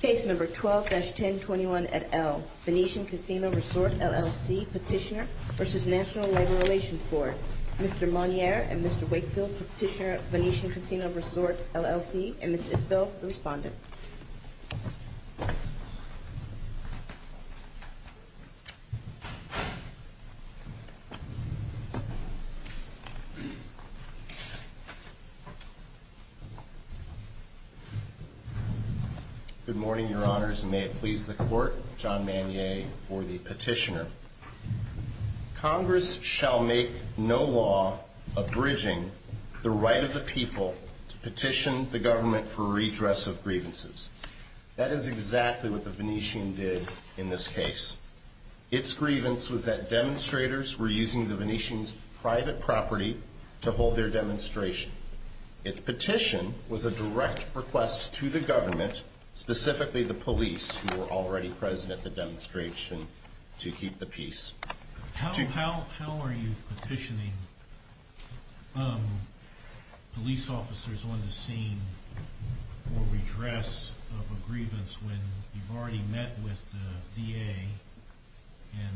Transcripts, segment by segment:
Case No. 12-1021 at L. Venetian Casino Resort, L.L.C. Petitioner v. National Labor Relations Board Mr. Monnier and Mr. Wakefield, Petitioner, Venetian Casino Resort, L.L.C., and Ms. Isbell, the Respondent Good morning, Your Honors, and may it please the Court, John Monnier for the Petitioner. Congress shall make no law abridging the right of the people to petition the government for redress of grievances. That is exactly what the Venetian did in this case. Its grievance was that demonstrators were using the Venetian's private property to hold their demonstration. Its petition was a direct request to the government, specifically the police, who were already present at the demonstration, to keep the peace. How are you petitioning police officers on the scene for redress of a grievance when you've already met with the DA and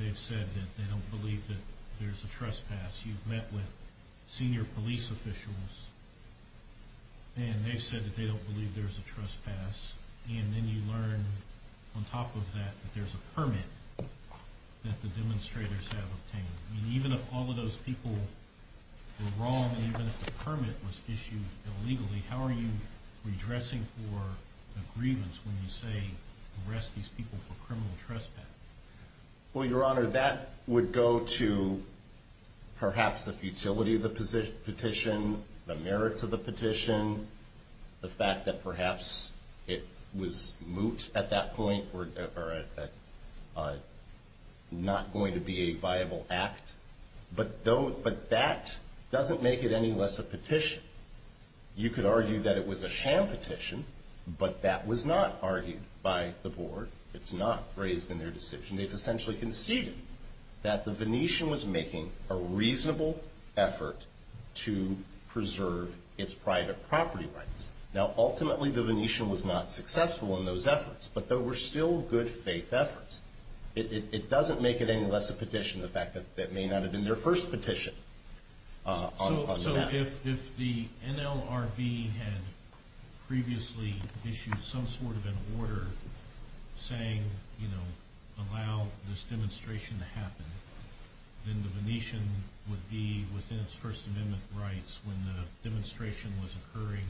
they've said that they don't believe that there's a trespass? You've met with senior police officials and they've said that they don't believe there's a trespass, and then you learn on top of that that there's a permit that the demonstrators have obtained. Even if all of those people were wrong, even if the permit was issued illegally, how are you redressing for a grievance when you say arrest these people for criminal trespass? Well, Your Honor, that would go to perhaps the futility of the petition, the merits of the petition, the fact that perhaps it was moot at that point or not going to be a viable act. But that doesn't make it any less a petition. You could argue that it was a sham petition, but that was not argued by the board. It's not raised in their decision. They've essentially conceded that the Venetian was making a reasonable effort to preserve its private property rights. Now, ultimately, the Venetian was not successful in those efforts, but there were still good faith efforts. It doesn't make it any less a petition the fact that that may not have been their first petition. So if the NLRB had previously issued some sort of an order saying, you know, allow this demonstration to happen, then the Venetian would be within its First Amendment rights when the demonstration was occurring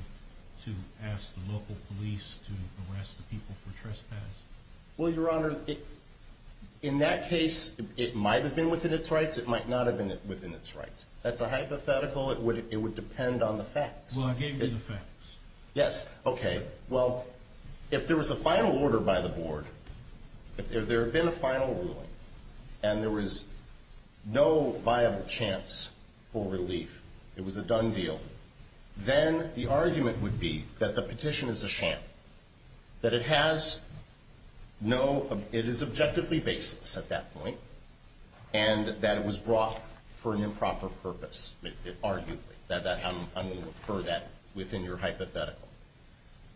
to ask the local police to arrest the people for trespass? Well, Your Honor, in that case, it might have been within its rights. It might not have been within its rights. That's a hypothetical. It would depend on the facts. Well, I gave you the facts. Yes. Okay. Well, if there was a final order by the board, if there had been a final ruling, and there was no viable chance for relief, it was a done deal, then the argument would be that the petition is a sham, that it has no — it is objectively baseless at that point, and that it was brought for an improper purpose, arguably. I'm going to refer that within your hypothetical.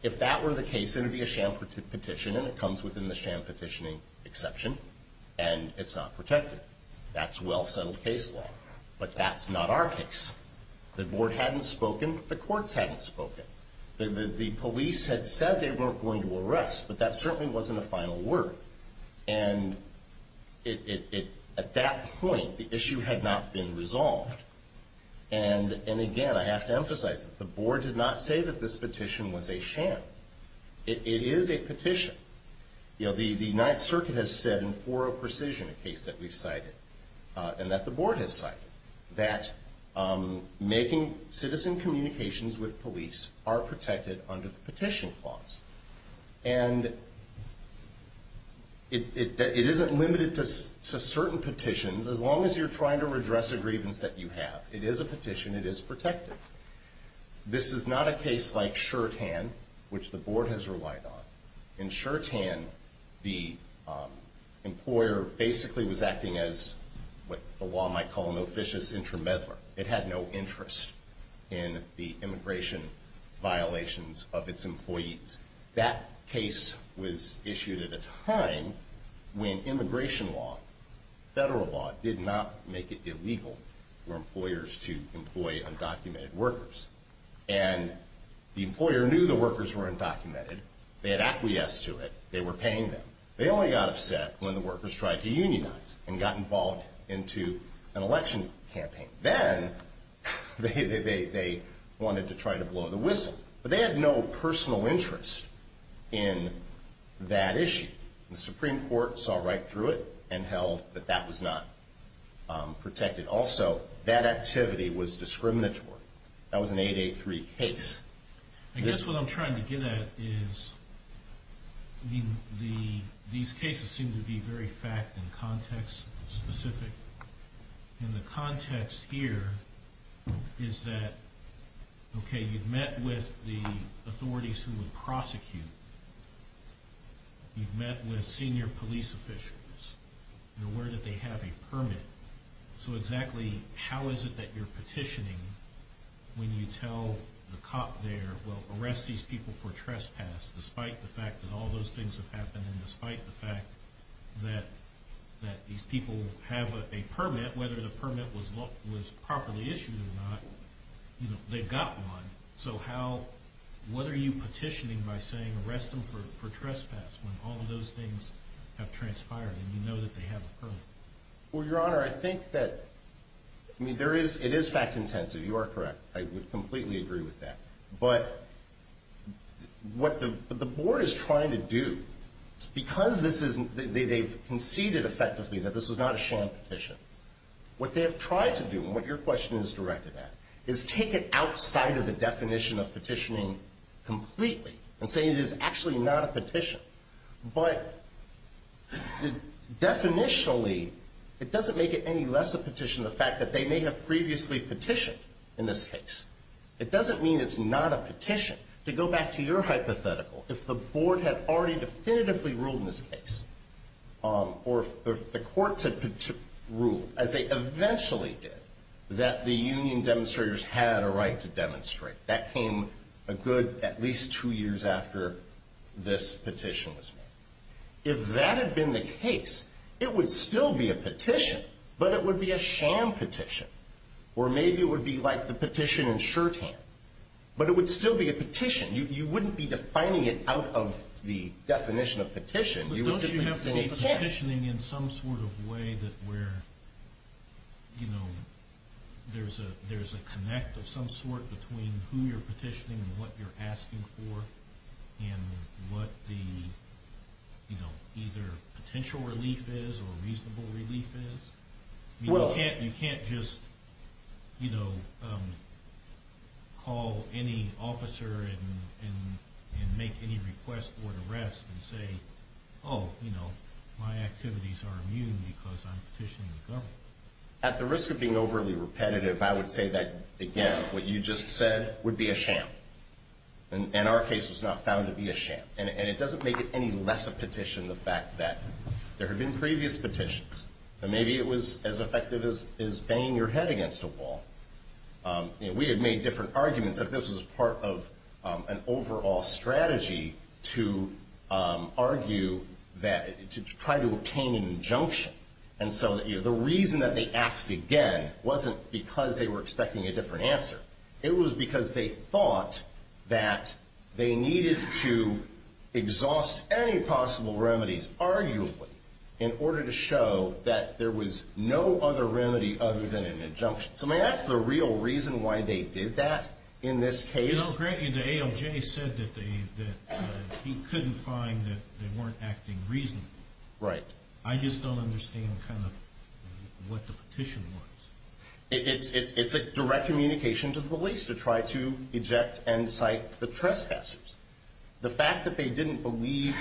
If that were the case, it would be a sham petition, and it comes within the sham petitioning exception, and it's not protected. That's well-settled case law. But that's not our case. The board hadn't spoken. The courts hadn't spoken. The police had said they weren't going to arrest, but that certainly wasn't a final word. And at that point, the issue had not been resolved. And, again, I have to emphasize that the board did not say that this petition was a sham. It is a petition. You know, the Ninth Circuit has said in four of precision, a case that we've cited, and that the board has cited, that making citizen communications with police are protected under the petition clause. And it isn't limited to certain petitions. As long as you're trying to redress a grievance that you have, it is a petition. It is protected. This is not a case like Shurtan, which the board has relied on. In Shurtan, the employer basically was acting as what the law might call an officious intermeddler. It had no interest in the immigration violations of its employees. That case was issued at a time when immigration law, federal law, did not make it illegal for employers to employ undocumented workers. And the employer knew the workers were undocumented. They had acquiesced to it. They were paying them. They only got upset when the workers tried to unionize and got involved into an election campaign. Then they wanted to try to blow the whistle. But they had no personal interest in that issue. The Supreme Court saw right through it and held that that was not protected. Also, that activity was discriminatory. That was an 883 case. I guess what I'm trying to get at is these cases seem to be very fact and context specific. And the context here is that, okay, you've met with the authorities who would prosecute. You've met with senior police officials. You're aware that they have a permit. So exactly how is it that you're petitioning when you tell the cop there, well, arrest these people for trespass despite the fact that all those things have happened and despite the fact that these people have a permit, whether the permit was properly issued or not. They've got one. So what are you petitioning by saying arrest them for trespass when all of those things have transpired and you know that they have a permit? Well, Your Honor, I think that it is fact intensive. You are correct. I would completely agree with that. But what the board is trying to do, because they've conceded effectively that this was not a sham petition, what they have tried to do and what your question is directed at is take it outside of the definition of petitioning completely and say it is actually not a petition. But definitionally, it doesn't make it any less a petition the fact that they may have previously petitioned in this case. It doesn't mean it's not a petition. To go back to your hypothetical, if the board had already definitively ruled in this case or if the courts had ruled, as they eventually did, that the union demonstrators had a right to demonstrate, that came a good at least two years after this petition was made. If that had been the case, it would still be a petition, but it would be a sham petition. Or maybe it would be like the petition in Shorthand, but it would still be a petition. You wouldn't be defining it out of the definition of petition. Don't you have to be petitioning in some sort of way where there's a connect of some sort between who you're petitioning and what you're asking for and what the potential relief is or reasonable relief is? You can't just call any officer and make any request for an arrest and say, oh, my activities are immune because I'm petitioning the government. At the risk of being overly repetitive, I would say that, again, what you just said would be a sham. And our case was not found to be a sham. And it doesn't make it any less a petition the fact that there have been previous petitions. And maybe it was as effective as banging your head against a wall. We had made different arguments, but this was part of an overall strategy to argue that, to try to obtain an injunction. And so the reason that they asked again wasn't because they were expecting a different answer. It was because they thought that they needed to exhaust any possible remedies, arguably, in order to show that there was no other remedy other than an injunction. So that's the real reason why they did that in this case. You know, grant you, the ALJ said that he couldn't find that they weren't acting reasonably. Right. I just don't understand kind of what the petition was. It's a direct communication to the police to try to eject and cite the trespassers. The fact that they didn't believe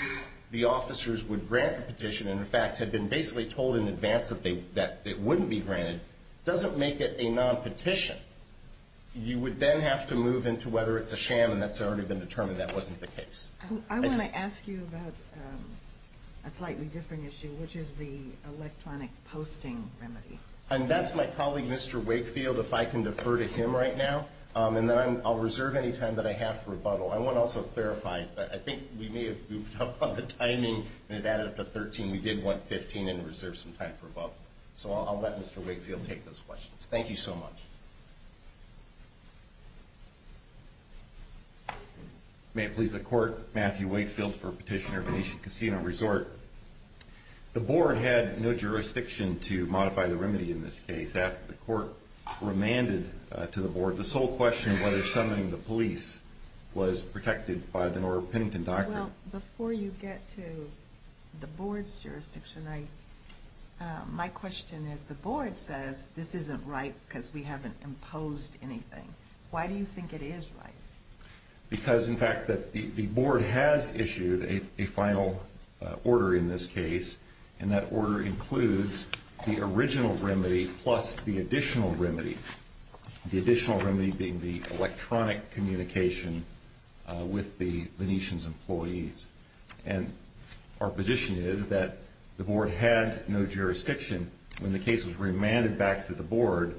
the officers would grant the petition, and in fact had been basically told in advance that it wouldn't be granted, doesn't make it a non-petition. You would then have to move into whether it's a sham, and that's already been determined that wasn't the case. I want to ask you about a slightly different issue, which is the electronic posting remedy. And that's my colleague, Mr. Wakefield, if I can defer to him right now. And then I'll reserve any time that I have for rebuttal. I want to also clarify that I think we may have goofed up on the timing and it added up to 13. We did want 15 and reserve some time for rebuttal. So I'll let Mr. Wakefield take those questions. Thank you so much. May it please the Court, Matthew Wakefield for Petitioner Venetian Casino Resort. The Board had no jurisdiction to modify the remedy in this case. After the Court remanded to the Board, the sole question of whether summoning the police was protected by the North Pennington Doctrine. Well, before you get to the Board's jurisdiction, my question is the Board says this isn't right because we haven't imposed anything. Why do you think it is right? Because, in fact, the Board has issued a final order in this case. And that order includes the original remedy plus the additional remedy. The additional remedy being the electronic communication with the Venetian's employees. And our position is that the Board had no jurisdiction. When the case was remanded back to the Board,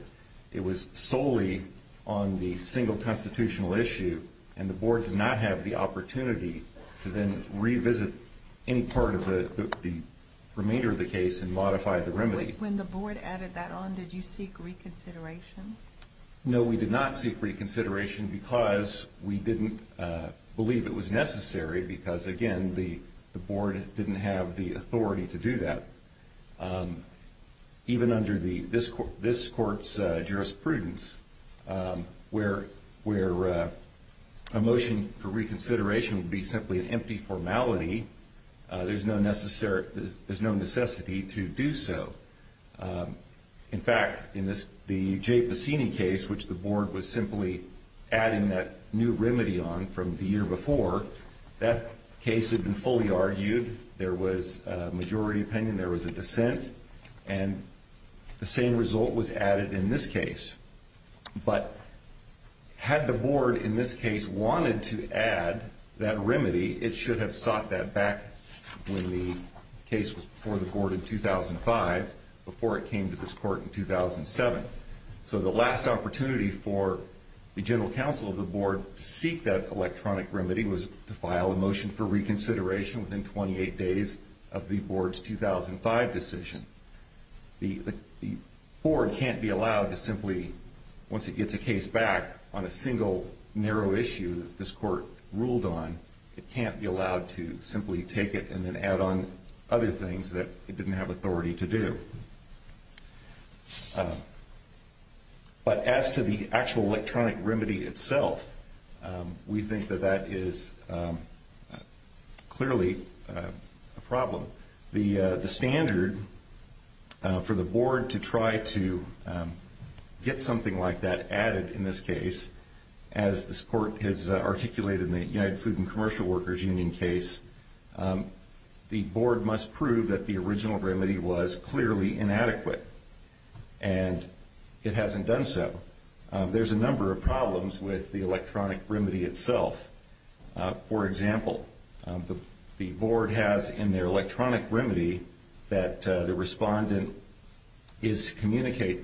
it was solely on the single constitutional issue. And the Board did not have the opportunity to then revisit any part of the remainder of the case and modify the remedy. When the Board added that on, did you seek reconsideration? No, we did not seek reconsideration because we didn't believe it was necessary because, again, the Board didn't have the authority to do that. Even under this Court's jurisprudence, where a motion for reconsideration would be simply an empty formality, there's no necessity to do so. In fact, in the Jay Bassini case, which the Board was simply adding that new remedy on from the year before, that case had been fully argued. There was a majority opinion. There was a dissent. And the same result was added in this case. But had the Board, in this case, wanted to add that remedy, it should have sought that back when the case was before the Board in 2005, before it came to this Court in 2007. So the last opportunity for the General Counsel of the Board to seek that electronic remedy was to file a motion for reconsideration within 28 days of the Board's 2005 decision. The Board can't be allowed to simply, once it gets a case back on a single narrow issue that this Court ruled on, it can't be allowed to simply take it and then add on other things that it didn't have authority to do. But as to the actual electronic remedy itself, we think that that is clearly a problem. The standard for the Board to try to get something like that added in this case, as this Court has articulated in the United Food and Commercial Workers Union case, the Board must prove that the original remedy was clearly inadequate. And it hasn't done so. There's a number of problems with the electronic remedy itself. For example, the Board has in their electronic remedy that the respondent is to communicate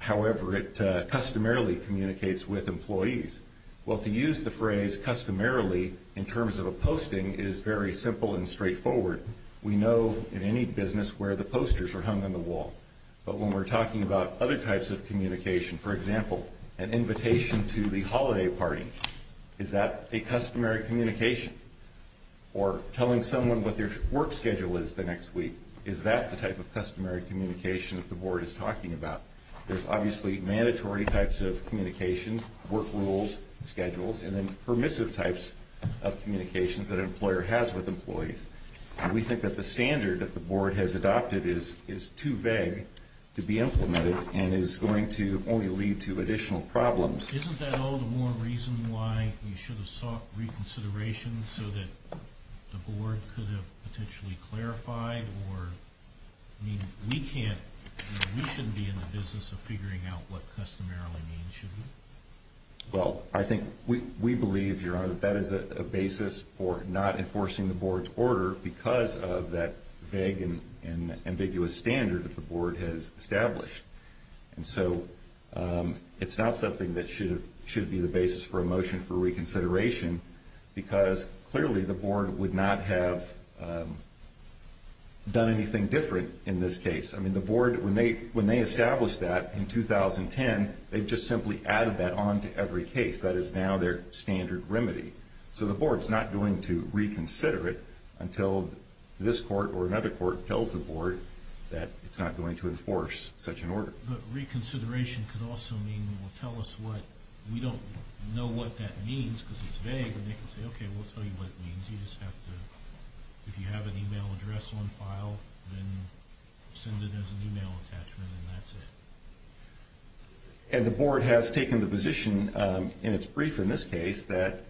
however it customarily communicates with employees. Well, to use the phrase customarily in terms of a posting is very simple and straightforward. We know in any business where the posters are hung on the wall. But when we're talking about other types of communication, for example, an invitation to the holiday party, is that a customary communication? Or telling someone what their work schedule is the next week, is that the type of customary communication that the Board is talking about? There's obviously mandatory types of communications, work rules, schedules, and then permissive types of communications that an employer has with employees. We think that the standard that the Board has adopted is too vague to be implemented and is going to only lead to additional problems. Isn't that all the more reason why you should have sought reconsideration so that the Board could have potentially clarified? Or, I mean, we can't, we shouldn't be in the business of figuring out what customarily means, should we? Well, I think we believe, Your Honor, that that is a basis for not enforcing the Board's order because of that vague and ambiguous standard that the Board has established. And so it's not something that should be the basis for a motion for reconsideration because clearly the Board would not have done anything different in this case. I mean, the Board, when they established that in 2010, they've just simply added that on to every case. That is now their standard remedy. So the Board's not going to reconsider it until this Court or another Court tells the Board that it's not going to enforce such an order. But reconsideration could also mean, well, tell us what, we don't know what that means because it's vague. And they can say, okay, we'll tell you what it means. You just have to, if you have an email address on file, then send it as an email attachment and that's it. And the Board has taken the position in its brief in this case that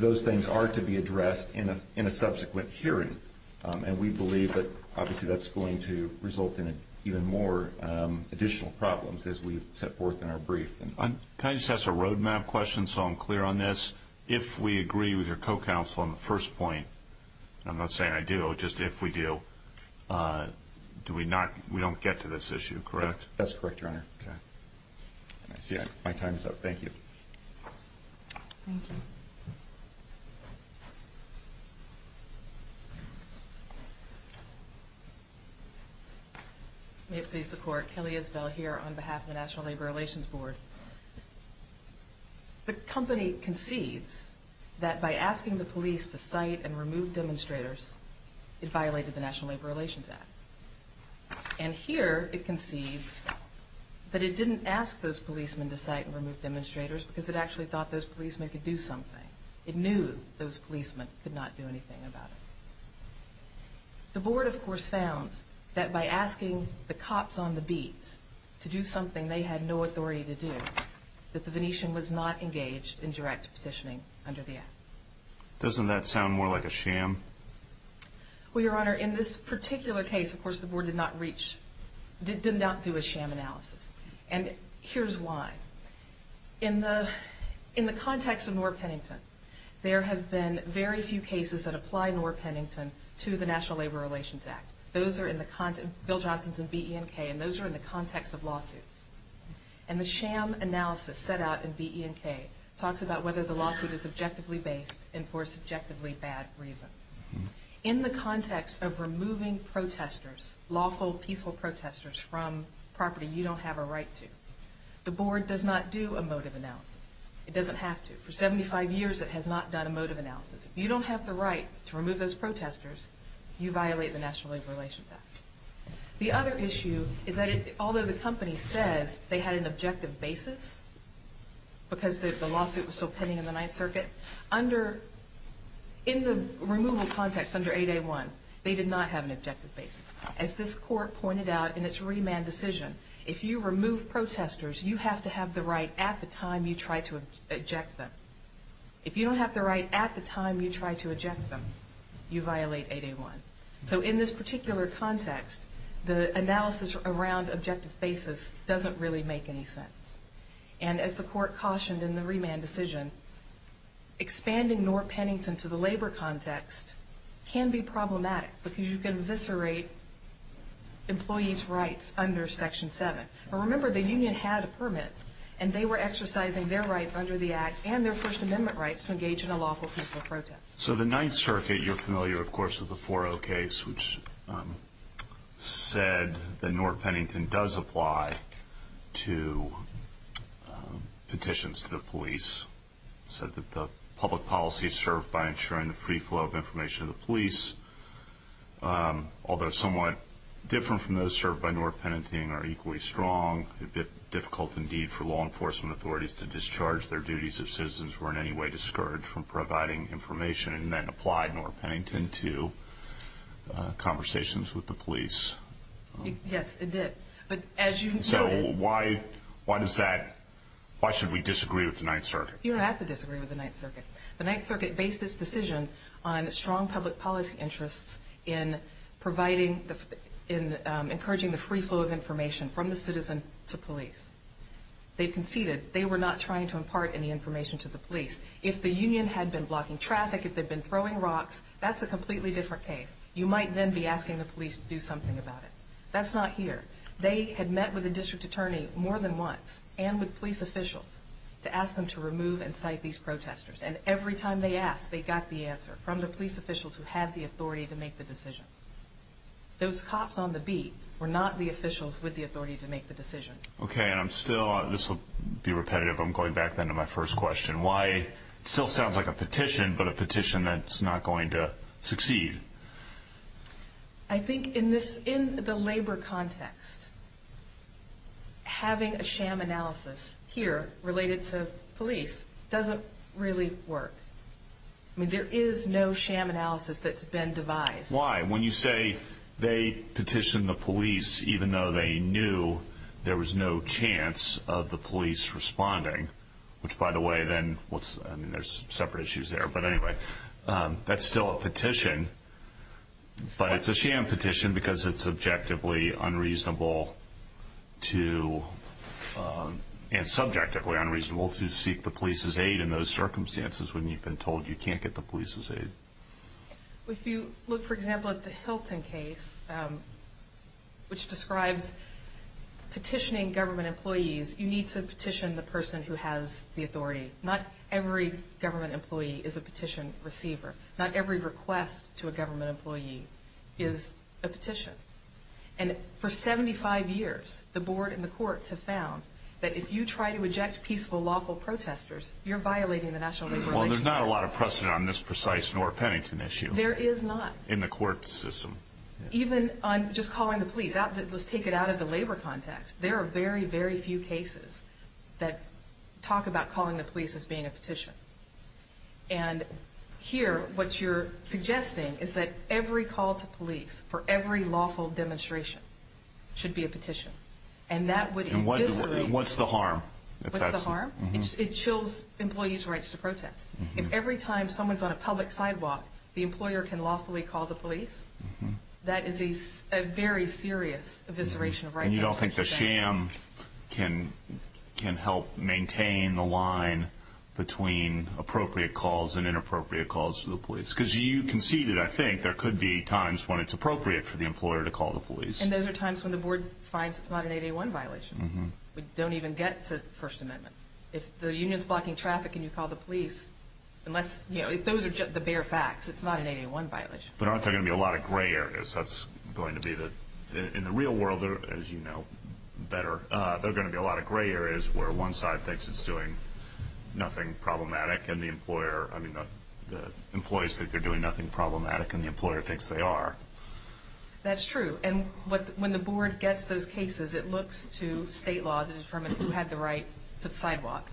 those things are to be addressed in a subsequent hearing. And we believe that obviously that's going to result in even more additional problems as we set forth in our brief. Can I just ask a roadmap question so I'm clear on this? If we agree with your co-counsel on the first point, and I'm not saying I do, just if we do, do we not, we don't get to this issue, correct? That's correct, Your Honor. Okay. My time is up. Thank you. Thank you. May it please the Court, Kelly Isbell here on behalf of the National Labor Relations Board. The company concedes that by asking the police to cite and remove demonstrators, it violated the National Labor Relations Act. And here it concedes that it didn't ask those policemen to cite and remove demonstrators because it actually thought those policemen could do something. It knew those policemen could not do anything about it. The Board, of course, found that by asking the cops on the beat to do something they had no authority to do, that the Venetian was not engaged in direct petitioning under the Act. Doesn't that sound more like a sham? Well, Your Honor, in this particular case, of course, the Board did not reach, did not do a sham analysis. And here's why. In the context of Nora Pennington, there have been very few cases that apply Nora Pennington to the National Labor Relations Act. Bill Johnson's in BE&K, and those are in the context of lawsuits. And the sham analysis set out in BE&K talks about whether the lawsuit is objectively based and for a subjectively bad reason. In the context of removing protesters, lawful, peaceful protesters, from property you don't have a right to, the Board does not do a motive analysis. It doesn't have to. For 75 years, it has not done a motive analysis. If you don't have the right to remove those protesters, you violate the National Labor Relations Act. The other issue is that although the company says they had an objective basis because the lawsuit was still pending in the Ninth Circuit, under, in the removal context under 8A1, they did not have an objective basis. As this Court pointed out in its remand decision, if you remove protesters, you have to have the right at the time you try to eject them. If you don't have the right at the time you try to eject them, you violate 8A1. So in this particular context, the analysis around objective basis doesn't really make any sense. And as the Court cautioned in the remand decision, expanding North Pennington to the labor context can be problematic because you can eviscerate employees' rights under Section 7. Remember, the union had a permit and they were exercising their rights under the Act and their First Amendment rights to engage in a lawful, peaceful protest. So the Ninth Circuit, you're familiar, of course, with the 4-0 case, which said that North Pennington does apply to petitions to the police. It said that the public policy is served by ensuring the free flow of information to the police, although somewhat different from those served by North Pennington are equally strong. It would be difficult, indeed, for law enforcement authorities to discharge their duties if citizens were in any way discouraged from providing information and then apply North Pennington to conversations with the police. Yes, it did. So why should we disagree with the Ninth Circuit? You don't have to disagree with the Ninth Circuit. The Ninth Circuit based its decision on strong public policy interests in encouraging the free flow of information from the citizen to police. They conceded. They were not trying to impart any information to the police. If the union had been blocking traffic, if they'd been throwing rocks, that's a completely different case. You might then be asking the police to do something about it. That's not here. They had met with a district attorney more than once and with police officials to ask them to remove and cite these protesters, and every time they asked, they got the answer from the police officials who had the authority to make the decision. Those cops on the beat were not the officials with the authority to make the decision. Okay, and I'm still – this will be repetitive. I'm going back then to my first question. Why – it still sounds like a petition, but a petition that's not going to succeed. I think in this – in the labor context, having a sham analysis here related to police doesn't really work. I mean, there is no sham analysis that's been devised. Why? When you say they petitioned the police even though they knew there was no chance of the police responding, which, by the way, then – I mean, there's separate issues there. But anyway, that's still a petition, but it's a sham petition because it's subjectively unreasonable to – and subjectively unreasonable to seek the police's aid in those circumstances when you've been told you can't get the police's aid. If you look, for example, at the Hilton case, which describes petitioning government employees, you need to petition the person who has the authority. Not every government employee is a petition receiver. Not every request to a government employee is a petition. And for 75 years, the board and the courts have found that if you try to eject peaceful, lawful protesters, you're violating the national labor relationship. Well, there's not a lot of precedent on this precise Nora Pennington issue. There is not. In the court system. Even on just calling the police, let's take it out of the labor context. There are very, very few cases that talk about calling the police as being a petition. And here, what you're suggesting is that every call to police for every lawful demonstration should be a petition. And that would – And what's the harm? What's the harm? It chills employees' rights to protest. If every time someone's on a public sidewalk, the employer can lawfully call the police, that is a very serious evisceration of rights. And you don't think the sham can help maintain the line between appropriate calls and inappropriate calls to the police? Because you conceded, I think, there could be times when it's appropriate for the employer to call the police. And those are times when the board finds it's not an 8A1 violation. We don't even get to the First Amendment. If the union's blocking traffic and you call the police, unless – those are the bare facts. It's not an 8A1 violation. But aren't there going to be a lot of gray areas? That's going to be the – in the real world, as you know better, there are going to be a lot of gray areas where one side thinks it's doing nothing problematic and the employer – I mean, the employees think they're doing nothing problematic and the employer thinks they are. That's true. And when the board gets those cases, it looks to state law to determine who had the right to the sidewalk.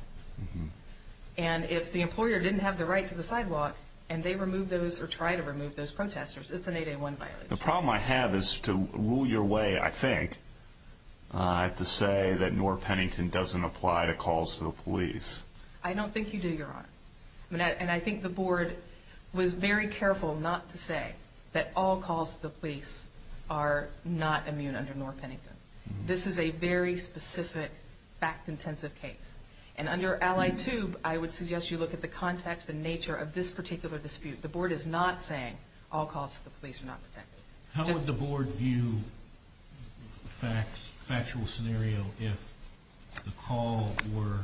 And if the employer didn't have the right to the sidewalk and they remove those or try to remove those protesters, it's an 8A1 violation. The problem I have is to rule your way, I think, to say that Noor Pennington doesn't apply to calls to the police. I don't think you do, Your Honor. And I think the board was very careful not to say that all calls to the police are not immune under Noor Pennington. This is a very specific, fact-intensive case. And under Ally 2, I would suggest you look at the context and nature of this particular dispute. The board is not saying all calls to the police are not protected. How would the board view a factual scenario if the call were,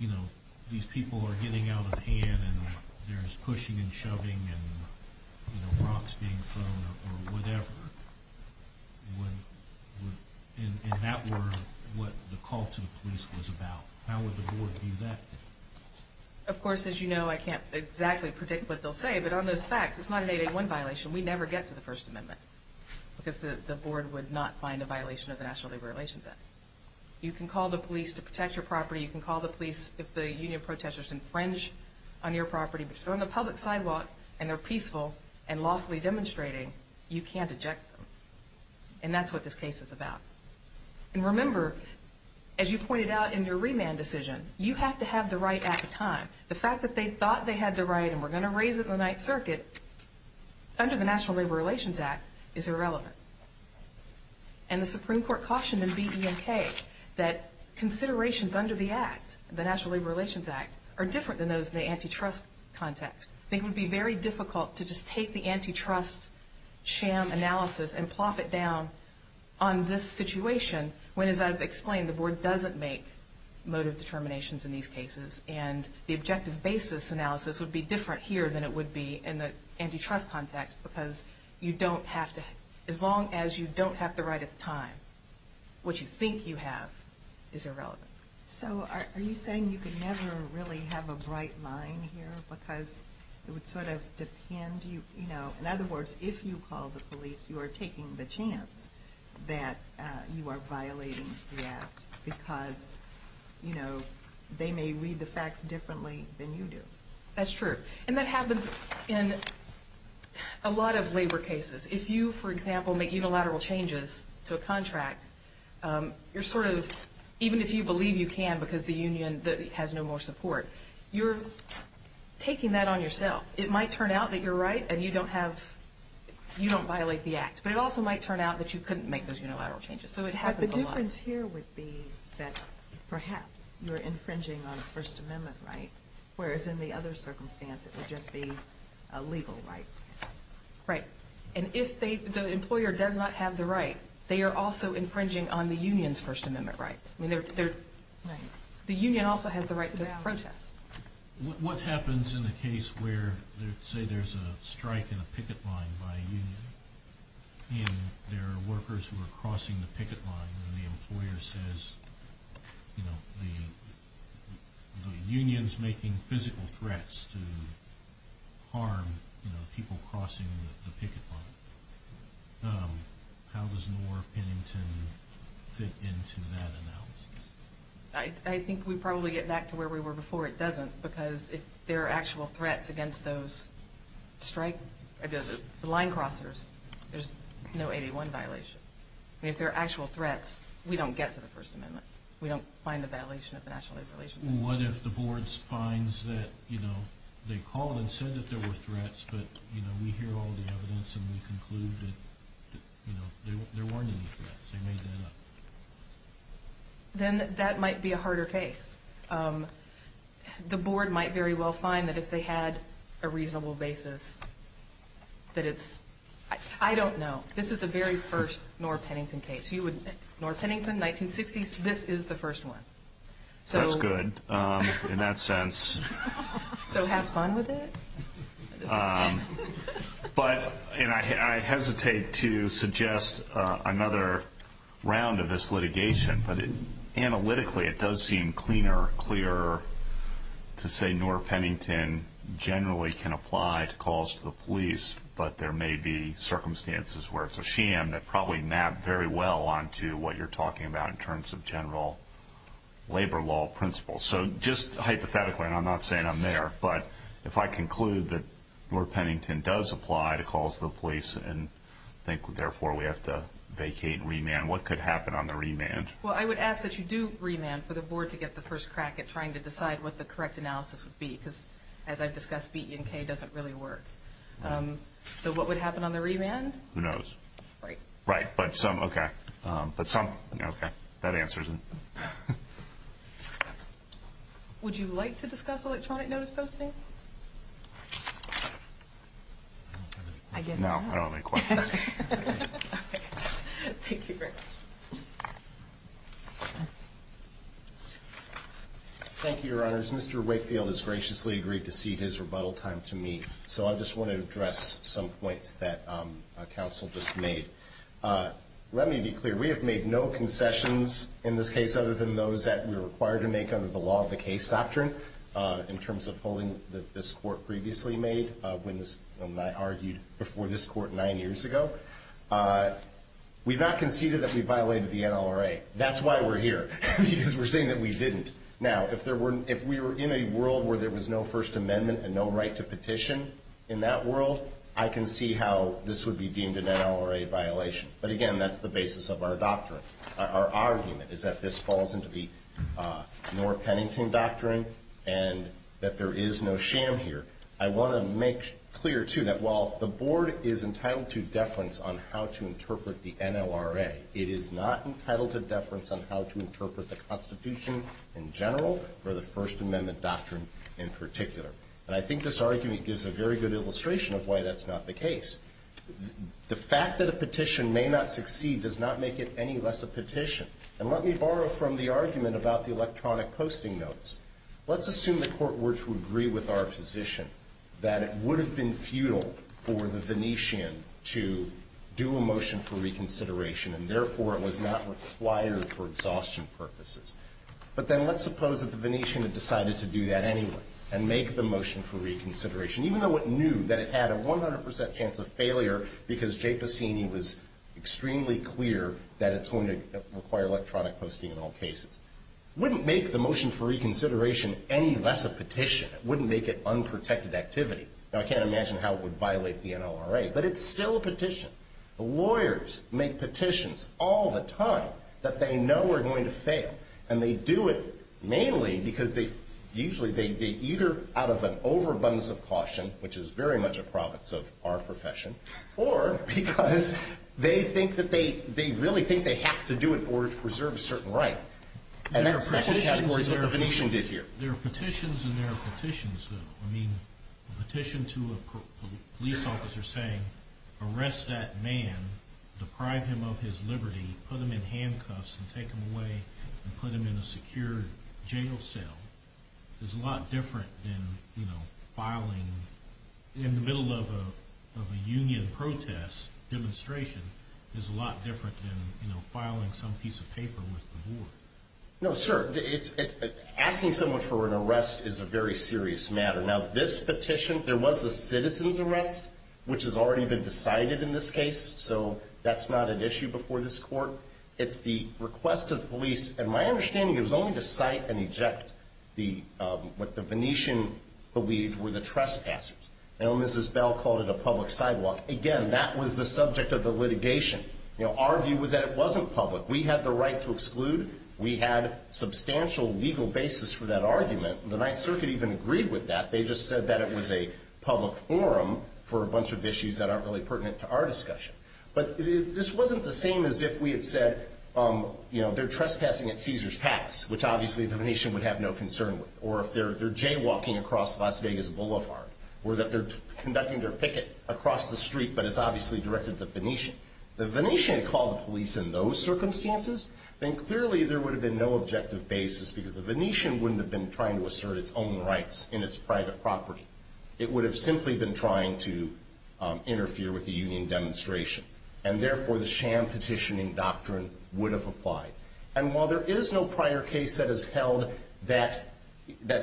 you know, these people are getting out of hand and there's pushing and shoving and rocks being thrown or whatever, and that were what the call to the police was about? How would the board view that? Of course, as you know, I can't exactly predict what they'll say, but on those facts, it's not an 8A1 violation. We never get to the First Amendment because the board would not find a violation of the National Labor Relations Act. You can call the police to protect your property. You can call the police if the union protesters infringe on your property, but if they're on the public sidewalk and they're peaceful and lawfully demonstrating, you can't eject them. And that's what this case is about. And remember, as you pointed out in your remand decision, you have to have the right at the time. The fact that they thought they had the right and were going to raise it in the Ninth Circuit under the National Labor Relations Act is irrelevant. And the Supreme Court cautioned in B, E, and K that considerations under the Act, the National Labor Relations Act, are different than those in the antitrust context. It would be very difficult to just take the antitrust sham analysis and plop it down on this situation, when, as I've explained, the board doesn't make motive determinations in these cases and the objective basis analysis would be different here than it would be in the antitrust context because as long as you don't have the right at the time, what you think you have is irrelevant. So are you saying you could never really have a bright line here because it would sort of depend? In other words, if you call the police, you are taking the chance that you are violating the Act because they may read the facts differently than you do. That's true. And that happens in a lot of labor cases. If you, for example, make unilateral changes to a contract, you're sort of, even if you believe you can because the union has no more support, you're taking that on yourself. It might turn out that you're right and you don't violate the Act, but it also might turn out that you couldn't make those unilateral changes. So it happens a lot. But the difference here would be that perhaps you're infringing on the First Amendment right, whereas in the other circumstance it would just be a legal right. Right. And if the employer does not have the right, they are also infringing on the union's First Amendment rights. The union also has the right to protest. What happens in a case where, say, there's a strike in a picket line by a union and there are workers who are crossing the picket line and the employer says, you know, the union's making physical threats to harm people crossing the picket line. How does Noor Pennington fit into that analysis? I think we'd probably get back to where we were before it doesn't because if there are actual threats against those line crossers, there's no 81 violation. I mean, if there are actual threats, we don't get to the First Amendment. We don't find a violation of the National Labor Relations Act. What if the board finds that, you know, they called and said that there were threats, but, you know, we hear all the evidence and we conclude that, you know, there weren't any threats, they made that up? Then that might be a harder case. The board might very well find that if they had a reasonable basis that it's, I don't know. This is the very first Noor Pennington case. Noor Pennington, 1960s, this is the first one. That's good in that sense. So have fun with it? But I hesitate to suggest another round of this litigation, but analytically it does seem cleaner, clearer, to say Noor Pennington generally can apply to calls to the police, but there may be circumstances where it's a sham that probably map very well onto what you're talking about in terms of general labor law principles. So just hypothetically, and I'm not saying I'm there, but if I conclude that Noor Pennington does apply to calls to the police and think therefore we have to vacate and remand, what could happen on the remand? Well, I would ask that you do remand for the board to get the first crack at trying to decide what the correct analysis would be, because as I've discussed, B, E, and K doesn't really work. So what would happen on the remand? Who knows. Right. Right, but some, okay. But some, okay, that answers it. Would you like to discuss electronic notice posting? I guess not. No, I don't have any questions. Okay. Thank you very much. Thank you, Your Honors. Mr. Wakefield has graciously agreed to cede his rebuttal time to me, so I just want to address some points that counsel just made. Let me be clear. We have made no concessions in this case other than those that we are required to make under the law of the case doctrine, in terms of holding that this Court previously made when I argued before this Court nine years ago. We've not conceded that we violated the NLRA. That's why we're here, because we're saying that we didn't. Now, if we were in a world where there was no First Amendment and no right to petition in that world, I can see how this would be deemed an NLRA violation. But, again, that's the basis of our doctrine. Our argument is that this falls into the Norah Pennington doctrine and that there is no sham here. I want to make clear, too, that while the Board is entitled to deference on how to interpret the NLRA, it is not entitled to deference on how to interpret the Constitution in general or the First Amendment doctrine in particular. And I think this argument gives a very good illustration of why that's not the case. The fact that a petition may not succeed does not make it any less a petition. And let me borrow from the argument about the electronic posting notes. Let's assume the Court were to agree with our position that it would have been futile for the Venetian to do a motion for reconsideration and, therefore, it was not required for exhaustion purposes. But then let's suppose that the Venetian had decided to do that anyway and make the motion for reconsideration, even though it knew that it had a 100% chance of failure because J. Passini was extremely clear that it's going to require electronic posting in all cases. It wouldn't make the motion for reconsideration any less a petition. It wouldn't make it unprotected activity. Now, I can't imagine how it would violate the NLRA, but it's still a petition. The lawyers make petitions all the time that they know are going to fail. And they do it mainly because they usually either out of an overabundance of caution, which is very much a province of our profession, or because they think that they really think they have to do it in order to preserve a certain right. And that's in several categories of what the Venetian did here. There are petitions and there are petitions, though. I mean, a petition to a police officer saying, arrest that man, deprive him of his liberty, put him in handcuffs and take him away, and put him in a secure jail cell is a lot different than filing in the middle of a union protest demonstration is a lot different than filing some piece of paper with the board. No, sure. Asking someone for an arrest is a very serious matter. Now, this petition, there was the citizen's arrest, which has already been decided in this case, so that's not an issue before this court. It's the request of the police. And my understanding is it was only to cite and eject what the Venetian believed were the trespassers. Mrs. Bell called it a public sidewalk. Again, that was the subject of the litigation. Our view was that it wasn't public. We had the right to exclude. We had a substantial legal basis for that argument. The Ninth Circuit even agreed with that. They just said that it was a public forum for a bunch of issues that aren't really pertinent to our discussion. But this wasn't the same as if we had said, you know, they're trespassing at Caesars Pass, which obviously the Venetian would have no concern with, or if they're jaywalking across Las Vegas Boulevard, or that they're conducting their picket across the street but it's obviously directed at the Venetian. If the Venetian had called the police in those circumstances, then clearly there would have been no objective basis, because the Venetian wouldn't have been trying to assert its own rights in its private property. It would have simply been trying to interfere with the union demonstration. And therefore, the sham petitioning doctrine would have applied. And while there is no prior case that is held that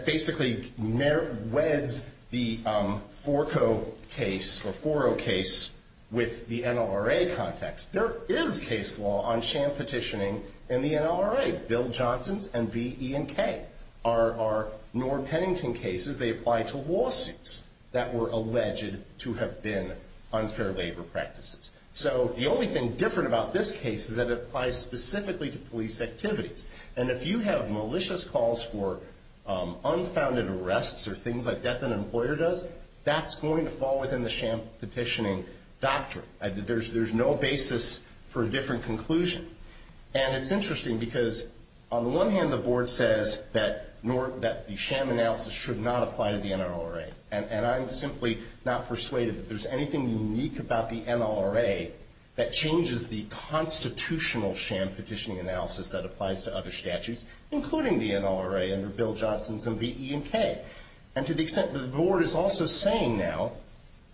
basically weds the Forco case or Foro case with the NLRA context, there is case law on sham petitioning in the NLRA. Bill Johnson's and B, E, and K are Norr-Pennington cases. They apply to lawsuits that were alleged to have been unfair labor practices. So the only thing different about this case is that it applies specifically to police activities. And if you have malicious calls for unfounded arrests or things like that that an employer does, that's going to fall within the sham petitioning doctrine. There's no basis for a different conclusion. And it's interesting, because on the one hand, the board says that the sham analysis should not apply to the NLRA. And I'm simply not persuaded that there's anything unique about the NLRA that changes the constitutional sham petitioning analysis that applies to other statutes, including the NLRA under Bill Johnson's and B, E, and K. And to the extent that the board is also saying now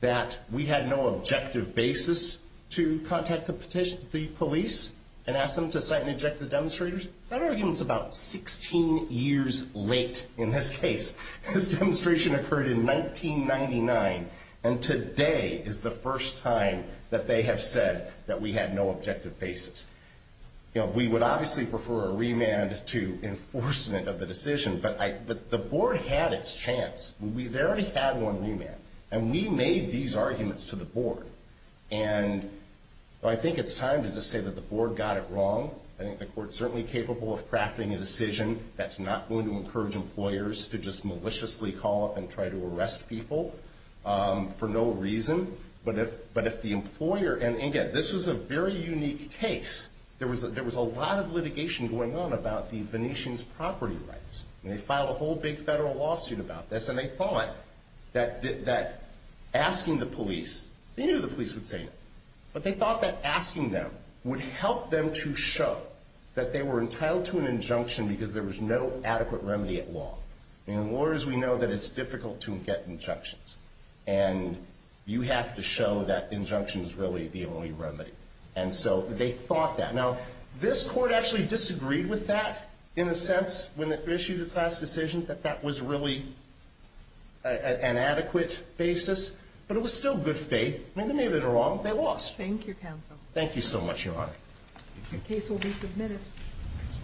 that we had no objective basis to contact the police and ask them to cite and eject the demonstrators, that argument's about 16 years late in this case. This demonstration occurred in 1999, and today is the first time that they have said that we had no objective basis. We would obviously prefer a remand to enforcement of the decision, but the board had its chance. They already had one remand. And we made these arguments to the board. And I think it's time to just say that the board got it wrong. I think the court's certainly capable of crafting a decision that's not going to encourage employers to just maliciously call up and try to arrest people for no reason. But if the employer, and again, this was a very unique case. There was a lot of litigation going on about the Venetians' property rights. And they filed a whole big federal lawsuit about this. And they thought that asking the police, they knew the police would say no, but they thought that asking them would help them to show that they were entitled to an injunction because there was no adequate remedy at law. And lawyers, we know that it's difficult to get injunctions. And you have to show that injunction is really the only remedy. And so they thought that. Now, this court actually disagreed with that in a sense when it issued its last decision, that that was really an adequate basis. But it was still good faith. I mean, they made it wrong. They lost. Thank you, counsel. Thank you so much, Your Honor. The case will be submitted.